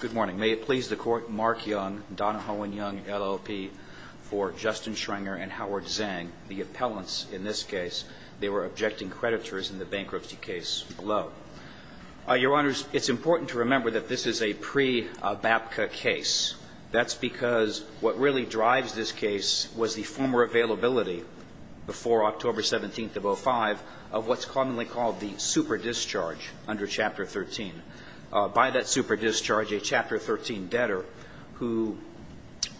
Good morning. May it please the Court, Mark Young, Donahoe and Young, LLP, for Justin Schrenger and Howard Zhang, the appellants in this case. They were objecting creditors in the bankruptcy case below. Your Honors, it's important to remember that this is a pre-BAPCA case. That's because what really drives this case was the former availability before October 17th of 05 of what's commonly called the super discharge under Chapter 13. By that super discharge, a Chapter 13 debtor who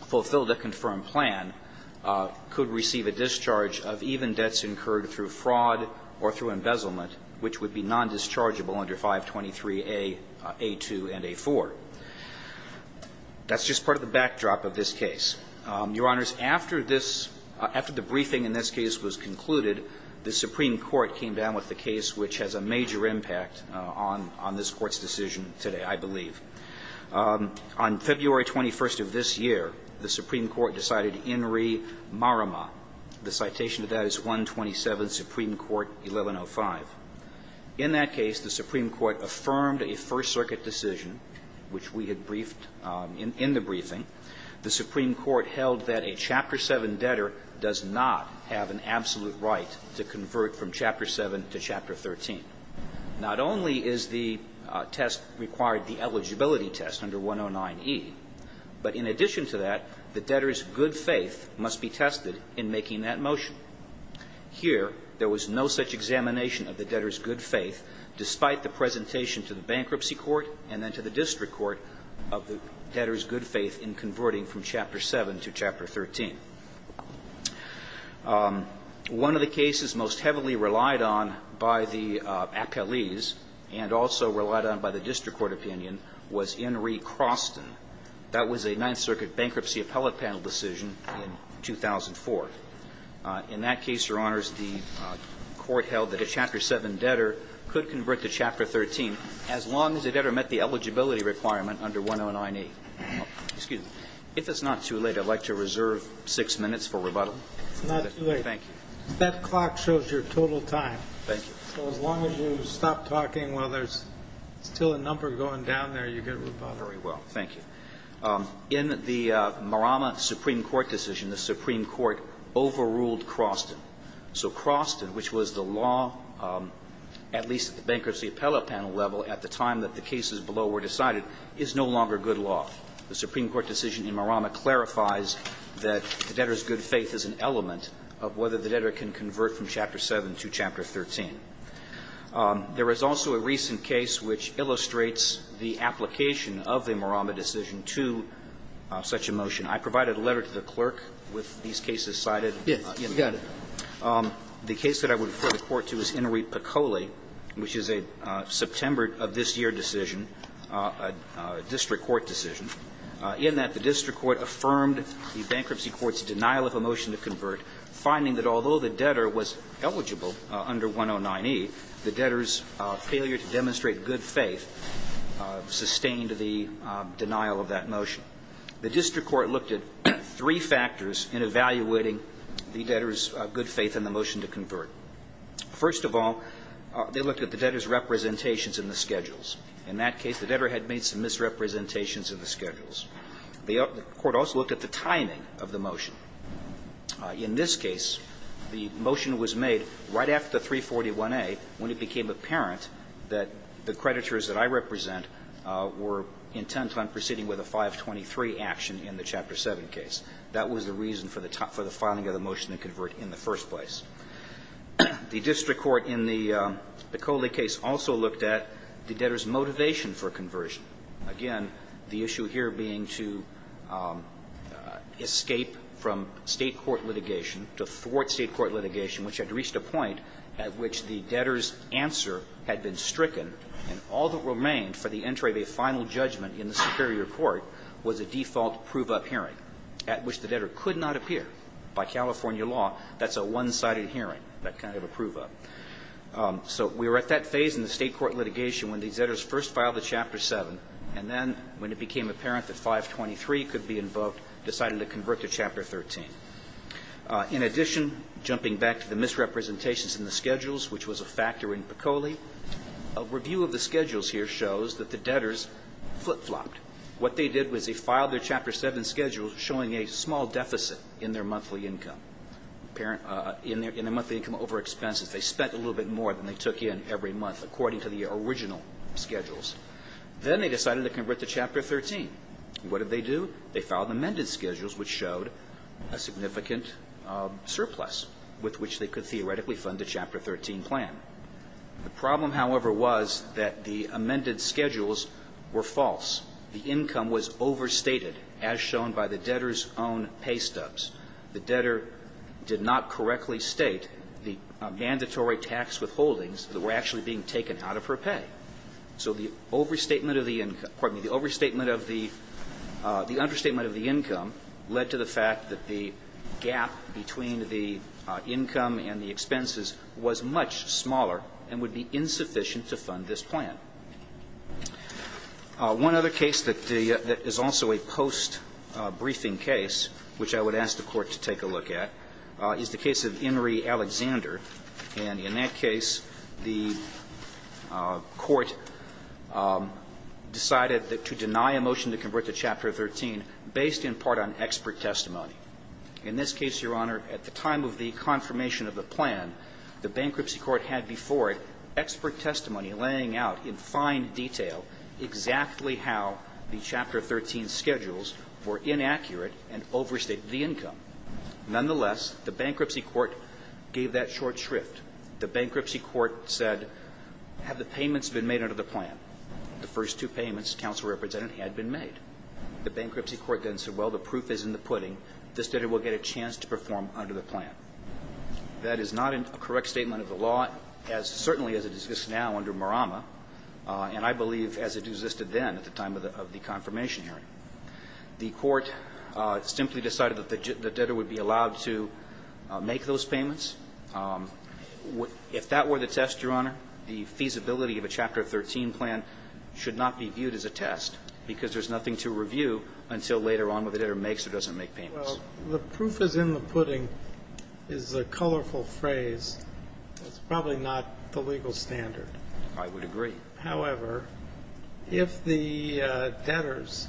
fulfilled a confirmed plan could receive a discharge of even debts incurred through fraud or through embezzlement, which would be non-dischargeable under 523a, a2, and a4. That's just part of the backdrop of this case. Your Honors, after this – after the briefing in this case was concluded, the Supreme Court came down with a case which has a major impact on this Court's decision today, I believe. On February 21st of this year, the Supreme Court decided In re Marama. The citation to that is 127, Supreme Court 1105. In that case, the Supreme Court affirmed a First Circuit decision, which we had briefed in the briefing. The Supreme Court held that a Chapter 7 debtor does not have an absolute right to convert from Chapter 7 to Chapter 13. Not only is the test required the eligibility test under 109e, but in addition to that, the debtor's good faith must be tested in making that motion. Here, there was no such examination of the debtor's good faith despite the presentation to the Bankruptcy Court and then to the District Court of the debtor's good faith in converting from Chapter 7 to Chapter 13. One of the cases most heavily relied on by the appellees and also relied on by the District Court opinion was In re Croston. That was a Ninth Circuit Bankruptcy Appellate Panel decision in 2004. In that case, Your Honors, the Court held that a Chapter 7 debtor could convert to Chapter 13 as long as a debtor met the eligibility requirement under 109e. Excuse me. If it's not too late, I'd like to reserve six minutes for rebuttal. It's not too late. Thank you. That clock shows your total time. Thank you. So as long as you stop talking while there's still a number going down there, you get rebuttal. Very well. Thank you. In the Marama Supreme Court decision, the Supreme Court overruled Croston. So Croston, which was the law, at least at the Bankruptcy Appellate Panel level, at the time that the cases below were decided, is no longer good law. The Supreme Court decision in Marama clarifies that the debtor's good faith is an element of whether the debtor can convert from Chapter 7 to Chapter 13. There is also a recent case which illustrates the application of the Marama decision to such a motion. I provided a letter to the clerk with these cases cited. Yes, you got it. The case that I would refer the Court to is Inouye-Picoli, which is a September of this year decision, a district court decision, in that the district court affirmed the bankruptcy court's denial of a motion to convert, finding that although the debtor was eligible under 109E, the debtor's failure to demonstrate good faith sustained the denial of that motion. The district court looked at three factors in evaluating the debtor's good faith in the motion to convert. First of all, they looked at the debtor's representations in the schedules. In that case, the debtor had made some misrepresentations in the schedules. The court also looked at the timing of the motion. In this case, the motion was made right after 341A when it became apparent that the creditors that I represent were intent on proceeding with a 523 action in the Chapter 7 case. That was the reason for the filing of the motion to convert in the first place. The district court in the Picoli case also looked at the debtor's motivation for conversion. Again, the issue here being to escape from state court litigation, to thwart state court litigation, which had reached a point at which the debtor's answer had been stricken, and all that remained for the entry of a final judgment in the superior court was a default prove-up hearing at which the debtor could not appear. By California law, that's a one-sided hearing, that kind of a prove-up. So we were at that phase in the state court litigation when these debtors first filed the Chapter 7, and then when it became apparent that 523 could be invoked, decided to convert to Chapter 13. In addition, jumping back to the misrepresentations in the schedules, which was a factor in Picoli, a review of the schedules here shows that the debtors flip-flopped. What they did was they filed their Chapter 7 schedule showing a small deficit in their monthly income. In their monthly income over expenses, they spent a little bit more than they took in every month according to the original schedules. Then they decided to convert to Chapter 13. What did they do? They filed amended schedules, which showed a significant surplus with which they could theoretically fund the Chapter 13 plan. The problem, however, was that the amended schedules were false. The income was overstated, as shown by the debtor's own pay stubs. The debtor did not correctly state the mandatory tax withholdings that were actually being taken out of her pay. So the overstatement of the income – pardon me, the overstatement of the – the understatement of the income led to the fact that the gap between the income and the expenses was much smaller and would be insufficient to fund this plan. One other case that the – that is also a post-briefing case, which I would ask the Court to take a look at, is the case of Inree Alexander. And in that case, the Court decided to deny a motion to convert to Chapter 13 based in part on expert testimony. In this case, Your Honor, at the time of the confirmation of the plan, the bankruptcy court had before it expert testimony laying out in fine detail exactly how the Chapter 13 schedules were inaccurate and overstated the income. Nonetheless, the bankruptcy court gave that short shrift. The bankruptcy court said, have the payments been made under the plan? The first two payments, counsel represented, had been made. The bankruptcy court then said, well, the proof is in the pudding. This debtor will get a chance to perform under the plan. That is not a correct statement of the law as – certainly as it exists now under the confirmation hearing. The Court simply decided that the debtor would be allowed to make those payments. If that were the test, Your Honor, the feasibility of a Chapter 13 plan should not be viewed as a test, because there's nothing to review until later on whether the debtor makes or doesn't make payments. Well, the proof is in the pudding is a colorful phrase. It's probably not the legal standard. I would agree. However, if the debtors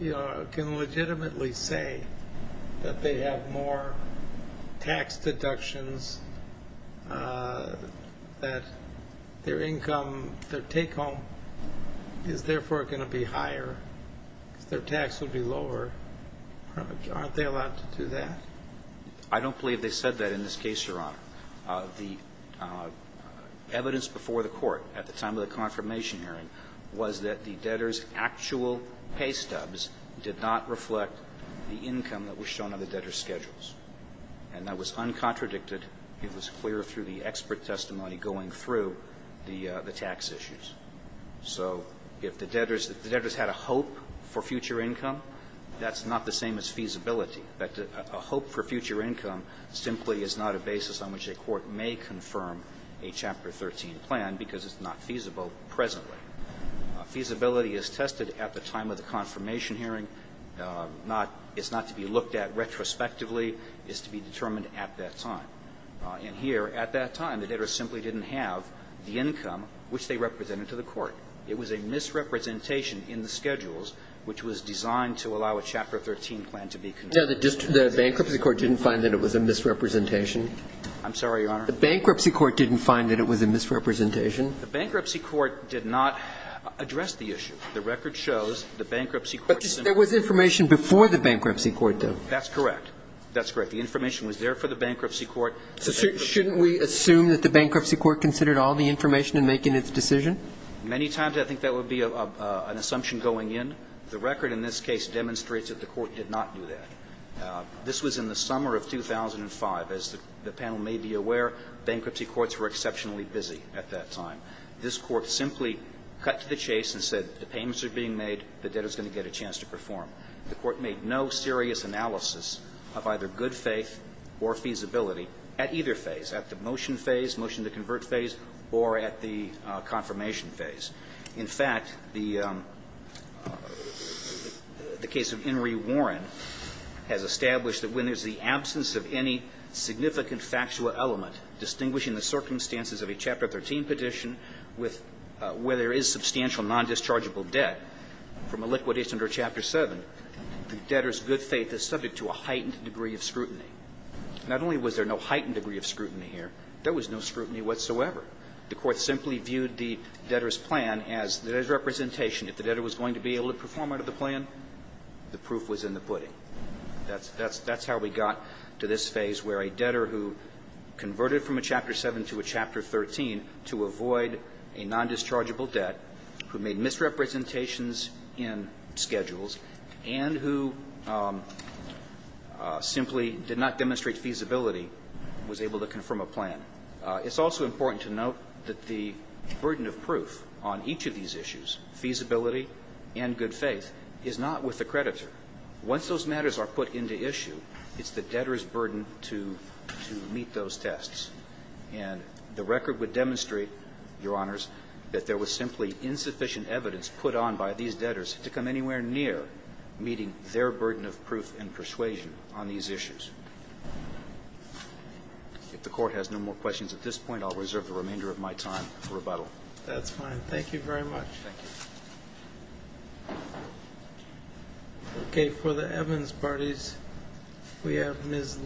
can legitimately say that they have more tax deductions, that their income, their take-home is therefore going to be higher because their tax would be lower, aren't they allowed to do that? I don't believe they said that in this case, Your Honor. The evidence before the Court at the time of the confirmation hearing was that the debtors' actual pay stubs did not reflect the income that was shown on the debtor's schedules. And that was uncontradicted. It was clear through the expert testimony going through the tax issues. So if the debtors had a hope for future income, that's not the same as feasibility. A hope for future income simply is not a basis on which a court may confirm a Chapter 13 plan because it's not feasible presently. Feasibility is tested at the time of the confirmation hearing. It's not to be looked at retrospectively. It's to be determined at that time. And here, at that time, the debtors simply didn't have the income which they represented to the court. It was a misrepresentation in the schedules which was designed to allow a Chapter 13 plan to be confirmed. The bankruptcy court didn't find that it was a misrepresentation? I'm sorry, Your Honor? The bankruptcy court didn't find that it was a misrepresentation? The bankruptcy court did not address the issue. The record shows the bankruptcy court simply didn't. But there was information before the bankruptcy court, though. That's correct. That's correct. The information was there for the bankruptcy court. So shouldn't we assume that the bankruptcy court considered all the information in making its decision? Many times I think that would be an assumption going in. The record in this case demonstrates that the court did not do that. This was in the summer of 2005. As the panel may be aware, bankruptcy courts were exceptionally busy at that time. This Court simply cut to the chase and said the payments are being made, the debtor is going to get a chance to perform. The Court made no serious analysis of either good faith or feasibility at either phase, at the motion phase, motion to convert phase, or at the confirmation phase. In fact, the case of Henry Warren has established that when there's the absence of any significant factual element distinguishing the circumstances of a Chapter 13 petition with where there is substantial nondischargeable debt from a liquidation under Chapter 7, the debtor's good faith is subject to a heightened degree of scrutiny. Not only was there no heightened degree of scrutiny here, there was no scrutiny whatsoever. The Court simply viewed the debtor's plan as the debtor's representation. If the debtor was going to be able to perform out of the plan, the proof was in the pudding. That's how we got to this phase where a debtor who converted from a Chapter 7 to a Chapter 13 to avoid a nondischargeable debt, who made misrepresentations in schedules, and who simply did not demonstrate feasibility, was able to confirm a plan. It's also important to note that the burden of proof on each of these issues, feasibility and good faith, is not with the creditor. Once those matters are put into issue, it's the debtor's burden to meet those tests. And the record would demonstrate, Your Honors, that there was simply insufficient evidence put on by these debtors to come anywhere near meeting their burden of proof and persuasion on these issues. If the Court has no more questions at this point, I'll reserve the remainder of my time for rebuttal. That's fine. Thank you very much. Thank you. Okay. For the Evans parties, we have Ms.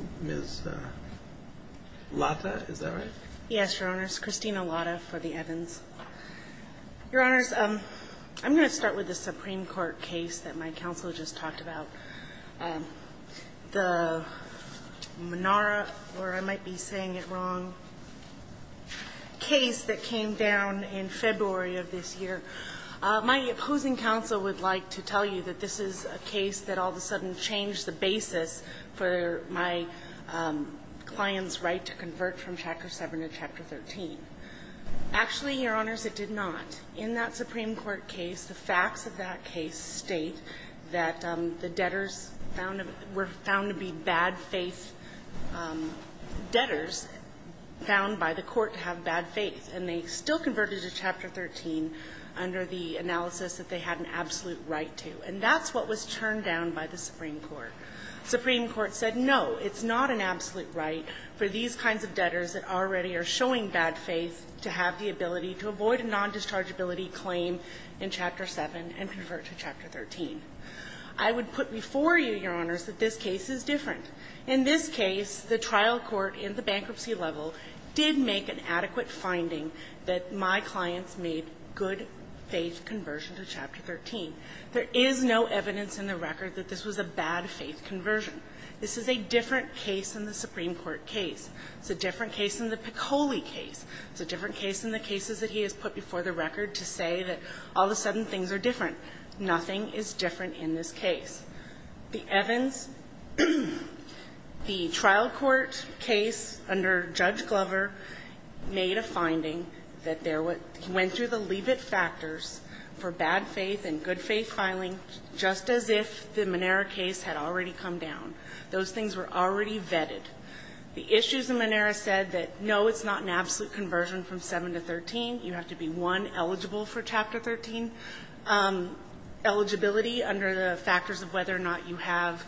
Latta, is that right? Yes, Your Honors. Christina Latta for the Evans. Your Honors, I'm going to start with the Supreme Court case that my counsel just talked about. The Menara, or I might be saying it wrong, case that came down in February of this year. My opposing counsel would like to tell you that this is a case that all of a sudden changed the basis for my client's right to convert from Chapter 7 to Chapter 13. Actually, Your Honors, it did not. In that Supreme Court case, the facts of that case state that the debtors were found to be bad faith debtors found by the Court to have bad faith, and they still converted to Chapter 13 under the analysis that they had an absolute right to. And that's what was turned down by the Supreme Court. The Supreme Court said, no, it's not an absolute right for these kinds of debtors that already are showing bad faith to have the ability to avoid a nondischargeability claim in Chapter 7 and convert to Chapter 13. I would put before you, Your Honors, that this case is different. In this case, the trial court in the bankruptcy level did make an adequate finding that my clients made good faith conversion to Chapter 13. There is no evidence in the record that this was a bad faith conversion. This is a different case than the Supreme Court case. It's a different case than the Piccoli case. It's a different case than the cases that he has put before the record to say that all of a sudden things are different. Nothing is different in this case. The Evans, the trial court case under Judge Glover made a finding that there was he went through the leave-it factors for bad faith and good faith filing just as if the Monera case had already come down. Those things were already vetted. The issues that Monera said that, no, it's not an absolute conversion from 7 to 13. You have to be, one, eligible for Chapter 13 eligibility under the factors of whether or not you have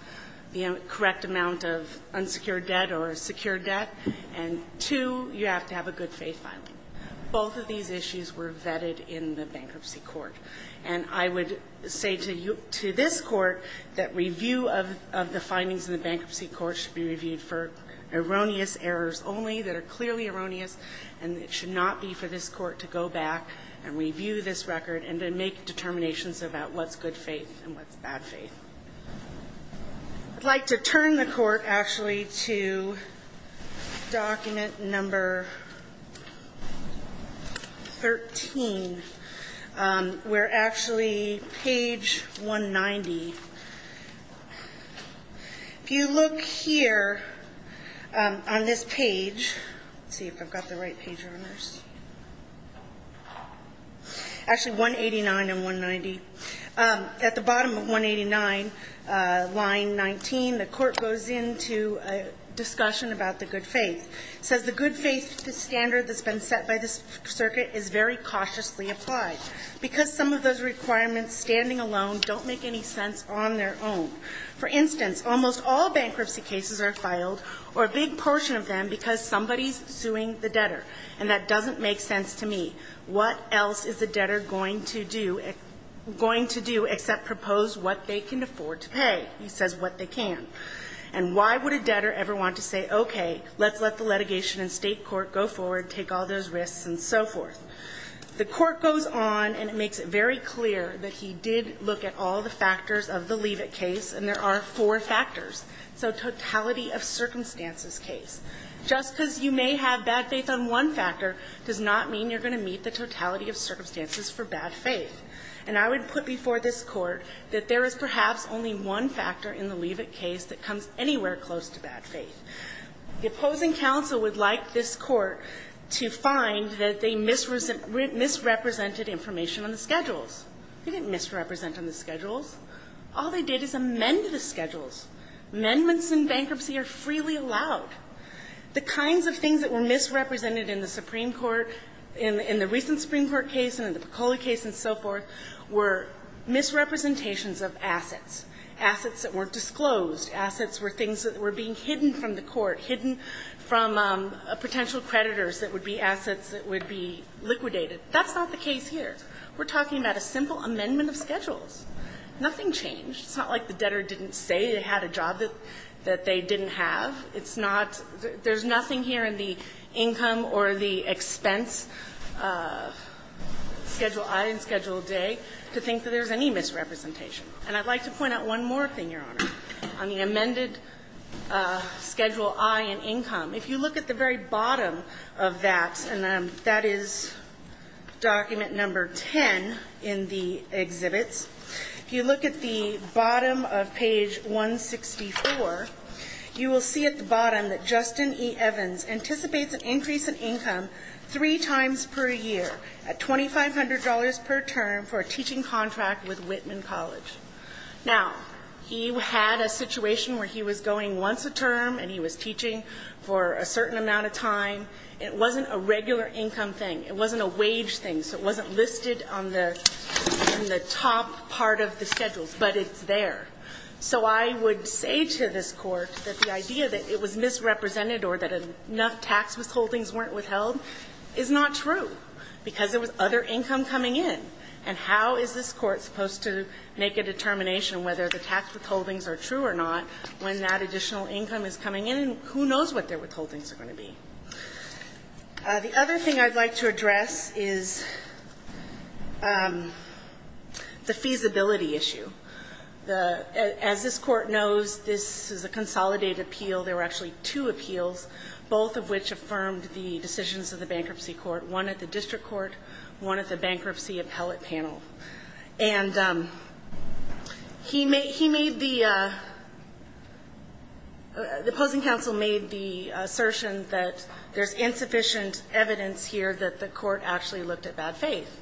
the correct amount of unsecured debt or a secured debt. And, two, you have to have a good faith filing. Both of these issues were vetted in the bankruptcy court. And I would say to you, to this court, that review of the findings in the bankruptcy court should be reviewed for erroneous errors only that are clearly erroneous, and it should not be for this court to go back and review this record and then make determinations about what's good faith and what's bad faith. I'd like to turn the Court, actually, to document number 13. We're actually page 190. If you look here on this page, let's see if I've got the right page on this. Actually, 189 and 190. At the bottom of 189, line 19, the Court goes into a discussion about the good faith. It says, The good faith standard that's been set by this circuit is very cautiously applied. Because some of those requirements standing alone don't make any sense on their own. For instance, almost all bankruptcy cases are filed, or a big portion of them, because somebody's suing the debtor. And that doesn't make sense to me. What else is the debtor going to do except propose what they can afford to pay? He says what they can. And why would a debtor ever want to say, okay, let's let the litigation in state court go forward, take all those risks, and so forth? The Court goes on, and it makes it very clear that he did look at all the factors of the Levitt case, and there are four factors. So totality of circumstances case. Just because you may have bad faith on one factor does not mean you're going to meet the totality of circumstances for bad faith. And I would put before this Court that there is perhaps only one factor in the Levitt case that comes anywhere close to bad faith. The opposing counsel would like this Court to find that they misrepresented information on the schedules. They didn't misrepresent on the schedules. All they did is amend the schedules. Amendments in bankruptcy are freely allowed. The kinds of things that were misrepresented in the Supreme Court, in the recent Supreme Court case and in the Pecola case and so forth, were misrepresentations of assets, assets that weren't disclosed. Assets were things that were being hidden from the Court, hidden from potential creditors that would be assets that would be liquidated. That's not the case here. We're talking about a simple amendment of schedules. Nothing changed. It's not like the debtor didn't say they had a job that they didn't have. It's not – there's nothing here in the income or the expense schedule I and schedule J to think that there's any misrepresentation. And I'd like to point out one more thing, Your Honor, on the amended schedule I in income. If you look at the very bottom of that, and that is document number 10 in the exhibits, if you look at the bottom of page 164, you will see at the bottom that Justin E. Evans anticipates an increase in income three times per year at $2,500 per term for a teaching contract with Whitman College. Now, he had a situation where he was going once a term and he was teaching for a certain amount of time. It wasn't a regular income thing. It wasn't a wage thing. So it wasn't listed on the top part of the schedules. But it's there. So I would say to this Court that the idea that it was misrepresented or that enough tax withholdings weren't withheld is not true because there was other income coming in. And how is this Court supposed to make a determination whether the tax withholdings are true or not when that additional income is coming in? And who knows what their withholdings are going to be? The other thing I'd like to address is the feasibility issue. As this Court knows, this is a consolidated appeal. There were actually two appeals, both of which affirmed the decisions of the bankruptcy court, one at the district court, one at the bankruptcy appellate panel. And he made the opposing counsel made the assertion that there's insufficient evidence here that the court actually looked at bad faith.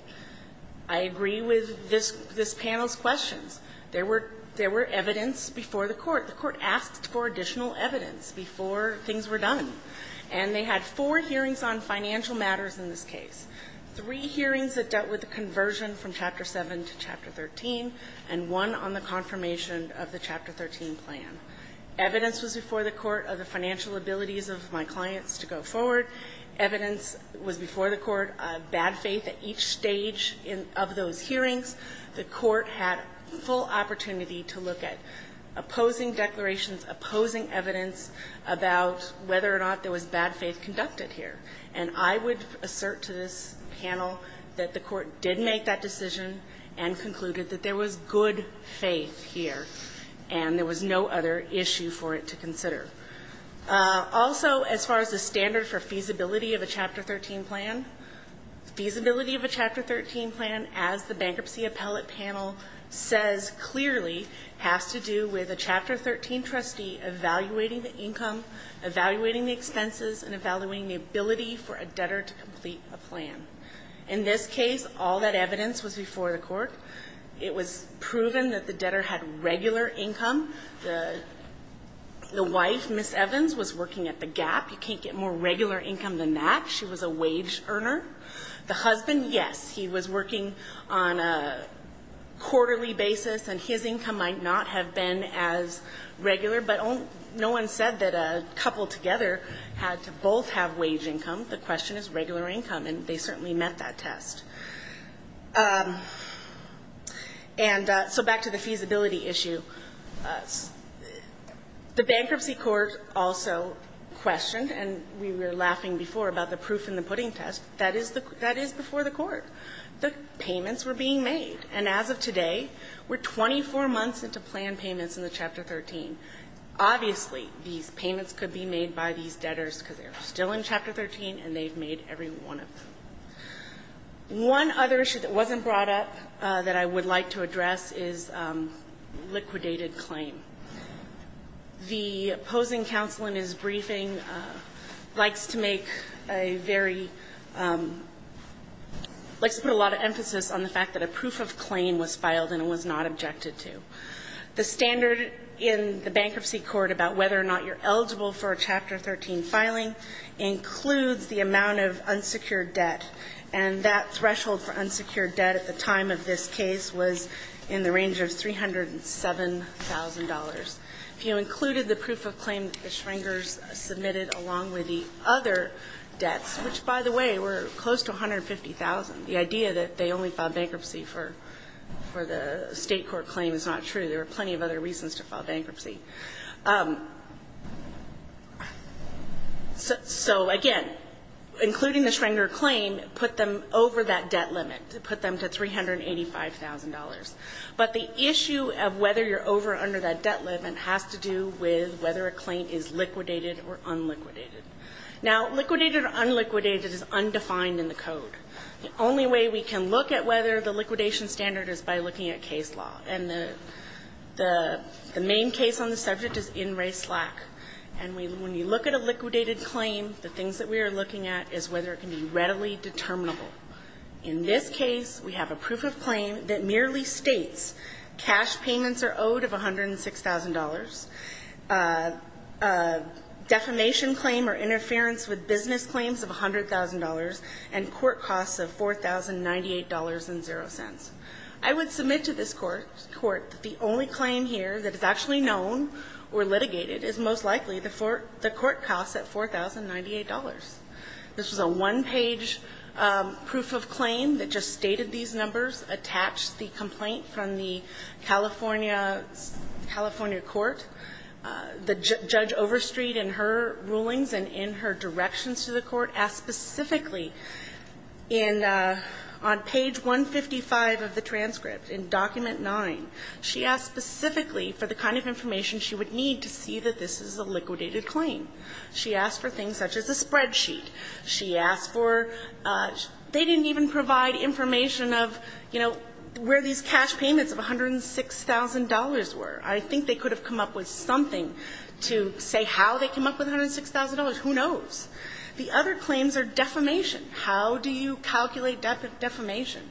I agree with this panel's questions. There were evidence before the court. The court asked for additional evidence before things were done. And they had four hearings on financial matters in this case, three hearings that dealt with the conversion from Chapter 7 to Chapter 13, and one on the confirmation of the Chapter 13 plan. Evidence was before the court of the financial abilities of my clients to go forward. Evidence was before the court of bad faith at each stage of those hearings. The court had full opportunity to look at opposing declarations, opposing evidence about whether or not there was bad faith conducted here. And I would assert to this panel that the court did make that decision and concluded that there was good faith here, and there was no other issue for it to consider. Also, as far as the standard for feasibility of a Chapter 13 plan, feasibility of a Chapter 13 plan, as the bankruptcy appellate panel says clearly, has to do with a Chapter 13 trustee evaluating the income, evaluating the expenses, and evaluating the ability for a debtor to complete a plan. In this case, all that evidence was before the court. It was proven that the debtor had regular income. The wife, Ms. Evans, was working at the Gap. You can't get more regular income than that. She was a wage earner. The husband, yes, he was working on a quarterly basis, and his income might not have been as regular, but no one said that a couple together had to both have wage income. The question is regular income, and they certainly met that test. And so back to the feasibility issue. The bankruptcy court also questioned, and we were laughing before about the proof in the pudding test, that is before the court. The payments were being made, and as of today, we're 24 months into plan payments in the Chapter 13. Obviously, these payments could be made by these debtors because they're still in Chapter 13, and they've made every one of them. One other issue that wasn't brought up that I would like to address is liquidated claim. The opposing counsel in his briefing likes to make a very, likes to put a lot of emphasis on the fact that a proof of claim was filed and was not objected to. The standard in the bankruptcy court about whether or not you're eligible for a Chapter 13 filing includes the amount of unsecured debt, and that threshold for unsecured debt at the time of this case was in the range of $307,000. If you included the proof of claim that the Schrengers submitted along with the other debts, which, by the way, were close to $150,000, the idea that they only filed bankruptcy for the State court claim is not true. There were plenty of other reasons to file bankruptcy. So, again, including the Schrenger claim put them over that debt limit. Put them to $385,000. But the issue of whether you're over or under that debt limit has to do with whether a claim is liquidated or unliquidated. Now, liquidated or unliquidated is undefined in the code. The only way we can look at whether the liquidation standard is by looking at case law. And the main case on the subject is in re slack. And when you look at a liquidated claim, the things that we are looking at is whether it can be readily determinable. In this case, we have a proof of claim that merely states cash payments are owed of $106,000, defamation claim or interference with business claims of $100,000, and court costs of $4,098.00. I would submit to this court that the only claim here that is actually known or litigated is most likely the court costs at $4,098.00. This is a one-page proof of claim that just stated these numbers, attached the complaint from the California, California court. The Judge Overstreet, in her rulings and in her directions to the court, asked specifically in, on page 155 of the transcript, in document 9, she asked specifically for the kind of information she would need to see that this is a liquidated claim. She asked for things such as a spreadsheet. She asked for they didn't even provide information of, you know, where these cash payments of $106,000.00 were. I think they could have come up with something to say how they came up with $106,000.00. Who knows? The other claims are defamation. How do you calculate defamation?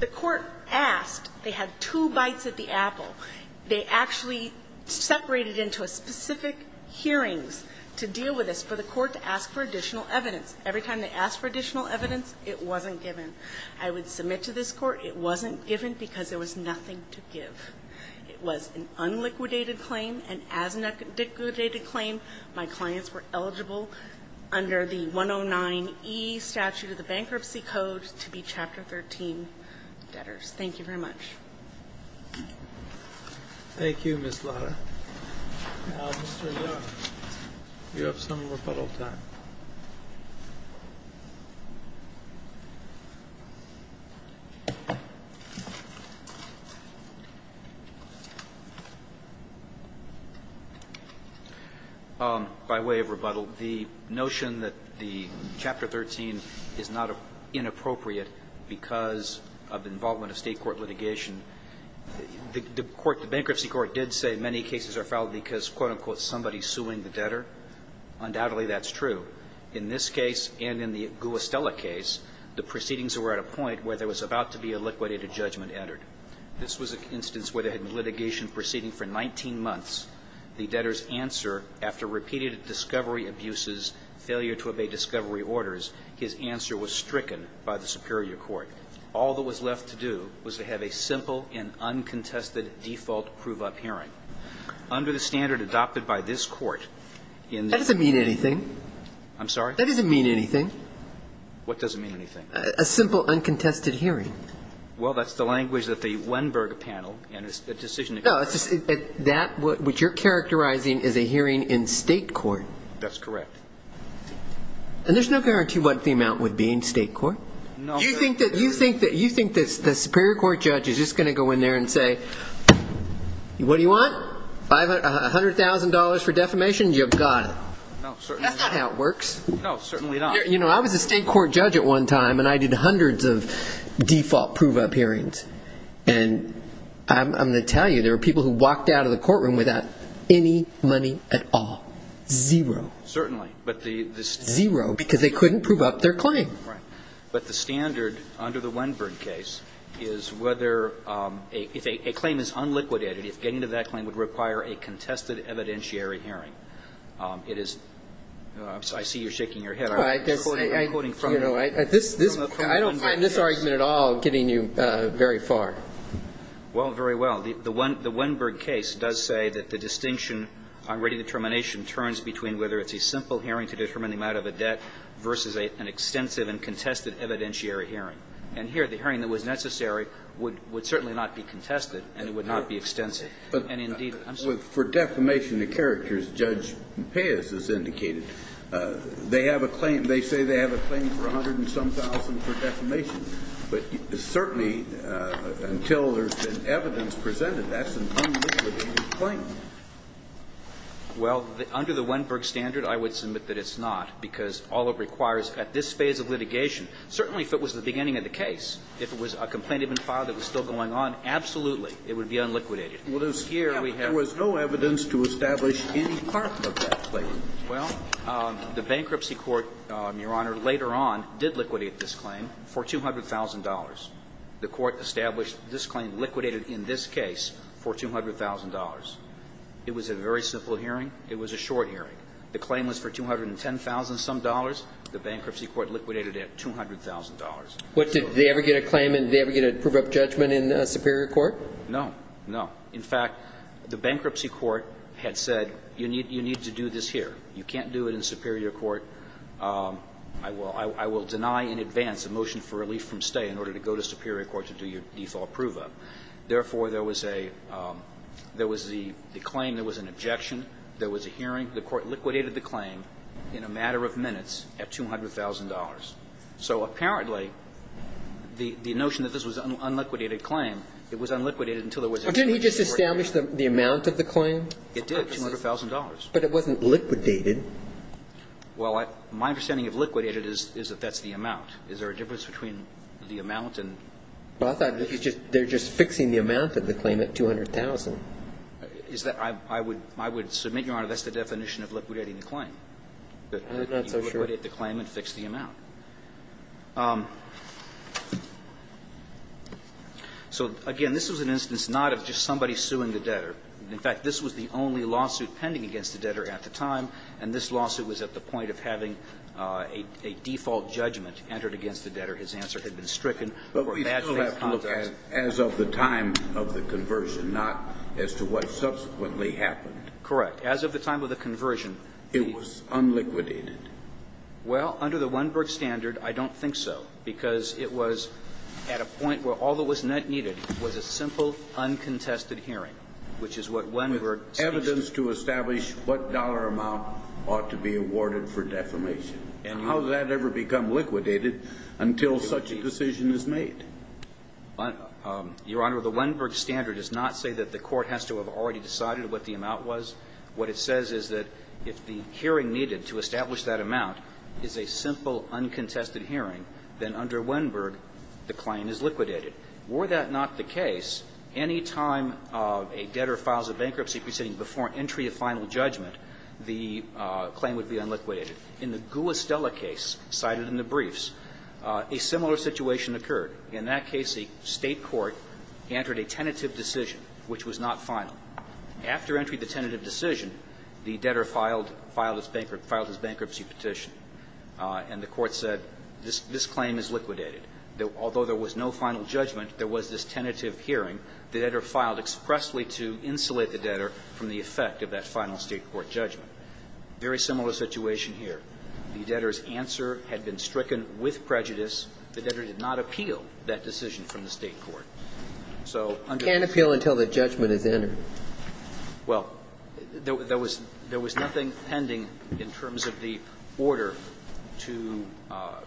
The court asked. They had two bites at the apple. They actually separated into a specific hearings to deal with this for the court to ask for additional evidence. Every time they asked for additional evidence, it wasn't given. I would submit to this court it wasn't given because there was nothing to give. It was an unliquidated claim. And as a liquidated claim, my clients were eligible under the 109E statute of the Bankruptcy Code to be Chapter 13 debtors. Thank you very much. Thank you, Ms. Lara. Now, Mr. Young, you have some rebuttal time. By way of rebuttal, the notion that the Chapter 13 is not inappropriate because of the involvement of state court litigation, the bankruptcy court did say many cases are filed because, quote-unquote, somebody is suing the debtor. Undoubtedly, that's true. In this case and in the Guastella case, the proceedings were at a point where there was about to be a liquidated judgment entered. This was an instance where there had been litigation proceeding for 19 months. The debtor's answer, after repeated discovery abuses, failure to obey discovery orders, his answer was stricken by the superior court. All that was left to do was to have a simple and uncontested default prove-up hearing. Under the standard adopted by this court in the ---- That doesn't mean anything. I'm sorry? That doesn't mean anything. What doesn't mean anything? A simple, uncontested hearing. Well, that's the language that the Weinberger panel in a decision ---- No, that which you're characterizing is a hearing in state court. That's correct. And there's no guarantee what the amount would be in state court. You think that the superior court judge is just going to go in there and say, What do you want? $100,000 for defamation? You've got it. No, certainly not. That's not how it works. No, certainly not. I was a state court judge at one time, and I did hundreds of default prove-up hearings. And I'm going to tell you, there were people who walked out of the courtroom without any money at all. Zero. Certainly. Zero, because they couldn't prove up their claim. Right. But the standard under the Weinberg case is whether ---- if a claim is unliquidated, if getting to that claim would require a contested evidentiary hearing, it is ---- I see you're shaking your head. I'm quoting from the Weinberg case. I don't find this argument at all getting you very far. Well, very well. The Weinberg case does say that the distinction on rating determination turns between whether it's a simple hearing to determine the amount of a debt versus an extensive and contested evidentiary hearing. And here, the hearing that was necessary would certainly not be contested, and it would not be extensive. And, indeed, I'm sorry. But for defamation of characters, Judge Pius has indicated, they have a claim ---- they say they have a claim for a hundred and some thousand for defamation. But certainly, until there's been evidence presented, that's an unliquidated claim. Well, under the Weinberg standard, I would submit that it's not, because all it requires at this phase of litigation, certainly if it was the beginning of the case, if it was a complaint even filed that was still going on, absolutely, it would be unliquidated. Well, here we have ---- There was no evidence to establish any part of that claim. Well, the bankruptcy court, Your Honor, later on did liquidate this claim. For $200,000. The court established this claim, liquidated in this case for $200,000. It was a very simple hearing. It was a short hearing. The claim was for $210,000 some dollars. The bankruptcy court liquidated it at $200,000. What, did they ever get a claim in ---- did they ever get a prove-up judgment in Superior Court? No. No. In fact, the bankruptcy court had said, you need to do this here. You can't do it in Superior Court. I will deny in advance a motion for relief from stay in order to go to Superior Court to do your default prove-up. Therefore, there was a ---- there was a claim, there was an objection, there was a hearing. The court liquidated the claim in a matter of minutes at $200,000. So apparently, the notion that this was an unliquidated claim, it was unliquidated until there was a hearing. Didn't he just establish the amount of the claim? It did, $200,000. But it wasn't liquidated. Well, I ---- my understanding of liquidated is that that's the amount. Is there a difference between the amount and ---- Well, I thought that he's just ---- they're just fixing the amount of the claim at $200,000. Is that ---- I would ---- I would submit, Your Honor, that's the definition of liquidating the claim. I'm not so sure. You liquidate the claim and fix the amount. So, again, this was an instance not of just somebody suing the debtor. In fact, this was the only lawsuit pending against the debtor at the time, and this lawsuit was at the point of having a default judgment entered against the debtor. His answer had been stricken. But we still have to look at as of the time of the conversion, not as to what subsequently happened. Correct. As of the time of the conversion, the ---- It was unliquidated. Well, under the Weinberg standard, I don't think so, because it was at a point where all that was needed was a simple, uncontested hearing, which is what Weinberg states. With evidence to establish what dollar amount ought to be awarded for defamation. And how does that ever become liquidated until such a decision is made? Your Honor, the Weinberg standard does not say that the court has to have already decided what the amount was. What it says is that if the hearing needed to establish that amount is a simple, uncontested hearing, then under Weinberg, the claim is liquidated. Were that not the case, any time a debtor files a bankruptcy proceeding before an entry of final judgment, the claim would be unliquidated. In the Gula Stella case cited in the briefs, a similar situation occurred. In that case, a State court entered a tentative decision, which was not final. After entry of the tentative decision, the debtor filed his bankruptcy petition, and the court said, this claim is liquidated. Although there was no final judgment, there was this tentative hearing. The debtor filed expressly to insulate the debtor from the effect of that final State court judgment. Very similar situation here. The debtor's answer had been stricken with prejudice. The debtor did not appeal that decision from the State court. So under the rules of the statute, there was nothing pending in terms of the order to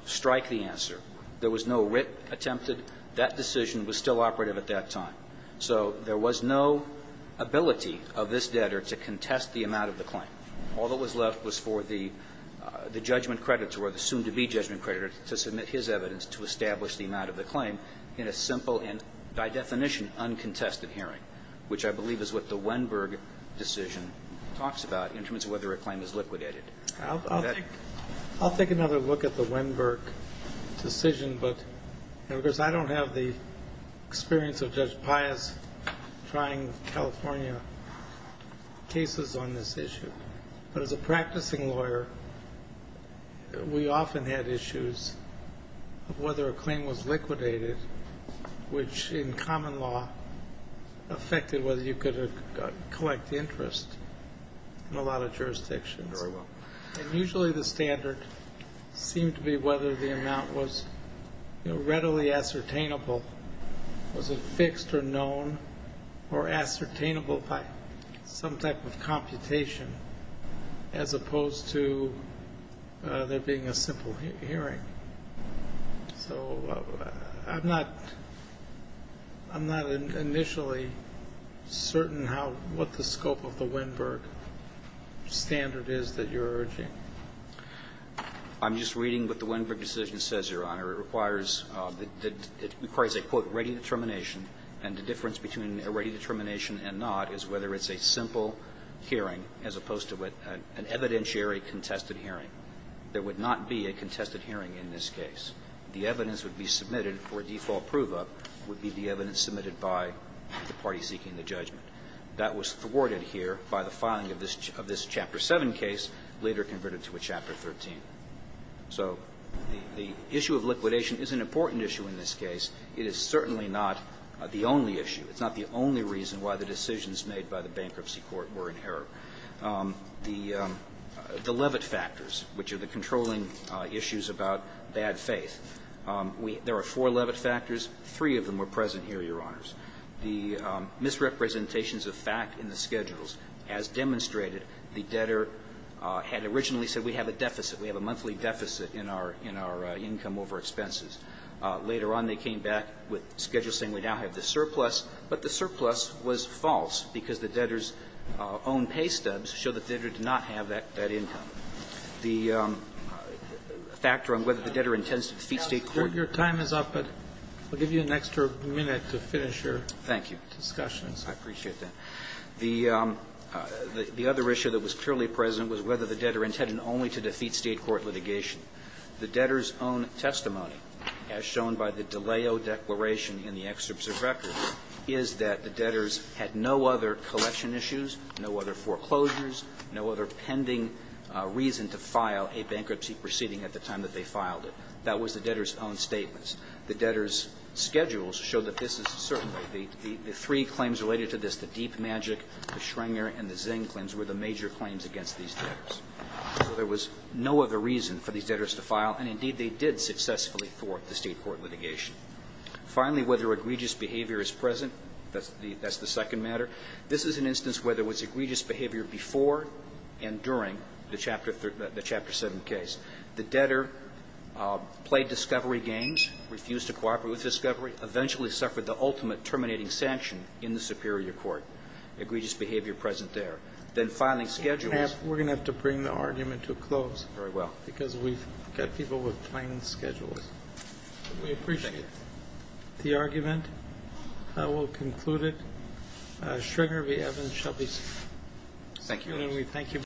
strike the answer. There was no writ attempted. That decision was still operative at that time. So there was no ability of this debtor to contest the amount of the claim. All that was left was for the judgment creditor, or the soon-to-be judgment creditor, to submit his evidence to establish the amount of the claim in a simple and, by definition, uncontested hearing, which I believe is what the Weinberg decision talks about in terms of whether a claim is liquidated. I'll take another look at the Weinberg decision. Because I don't have the experience of Judge Pius trying California cases on this issue, but as a practicing lawyer, we often had issues of whether a claim was liquidated, which in common law affected whether you could collect interest in a lot of jurisdictions. And usually the standard seemed to be whether the amount was readily ascertainable, was it fixed or known or ascertainable by some type of computation, as opposed to there being a simple hearing. So I'm not – I'm not initially certain how – what the scope of the Weinberg standard is that you're urging. I'm just reading what the Weinberg decision says, Your Honor. It requires a, quote, ready determination. And the difference between a ready determination and not is whether it's a simple hearing as opposed to an evidentiary contested hearing. There would not be a contested hearing in this case. The evidence would be submitted for a default prove-up would be the evidence submitted by the party seeking the judgment. That was thwarted here by the filing of this Chapter 7 case, later converted to a Chapter 13. So the issue of liquidation is an important issue in this case. It is certainly not the only issue. It's not the only reason why the decisions made by the bankruptcy court were in The levit factors, which are the controlling issues about bad faith. There are four levit factors. Three of them were present here, Your Honors. The misrepresentations of fact in the schedules, as demonstrated, the debtor had originally said we have a deficit, we have a monthly deficit in our – in our income over expenses. Later on, they came back with schedules saying we now have the surplus, but the surplus was false because the debtor's own pay stubs show that the debtor did not have that income. The factor on whether the debtor intends to defeat State court. Your time is up, but we'll give you an extra minute to finish your discussions. Thank you. I appreciate that. The other issue that was clearly present was whether the debtor intended only to defeat State court litigation. The debtor's own testimony, as shown by the DiLeo Declaration in the excerpts of records, is that the debtors had no other collection issues, no other foreclosures, no other pending reason to file a bankruptcy proceeding at the time that they filed it. That was the debtor's own statements. The debtor's schedules show that this is certainly – the three claims related to this, the Deep Magic, the Schrenger, and the Zinklins, were the major claims against these debtors. So there was no other reason for these debtors to file, and indeed, they did successfully thwart the State court litigation. Finally, whether egregious behavior is present. That's the second matter. This is an instance where there was egregious behavior before and during the Chapter 7 case. The debtor played discovery games, refused to cooperate with discovery, eventually suffered the ultimate terminating sanction in the superior court. Egregious behavior present there. Then filing schedules. We're going to have to bring the argument to a close. Very well. Because we've got people with plain schedules. We appreciate the argument. I will conclude it. Schrenger v. Evans shall be seated. Thank you. And we thank you very much.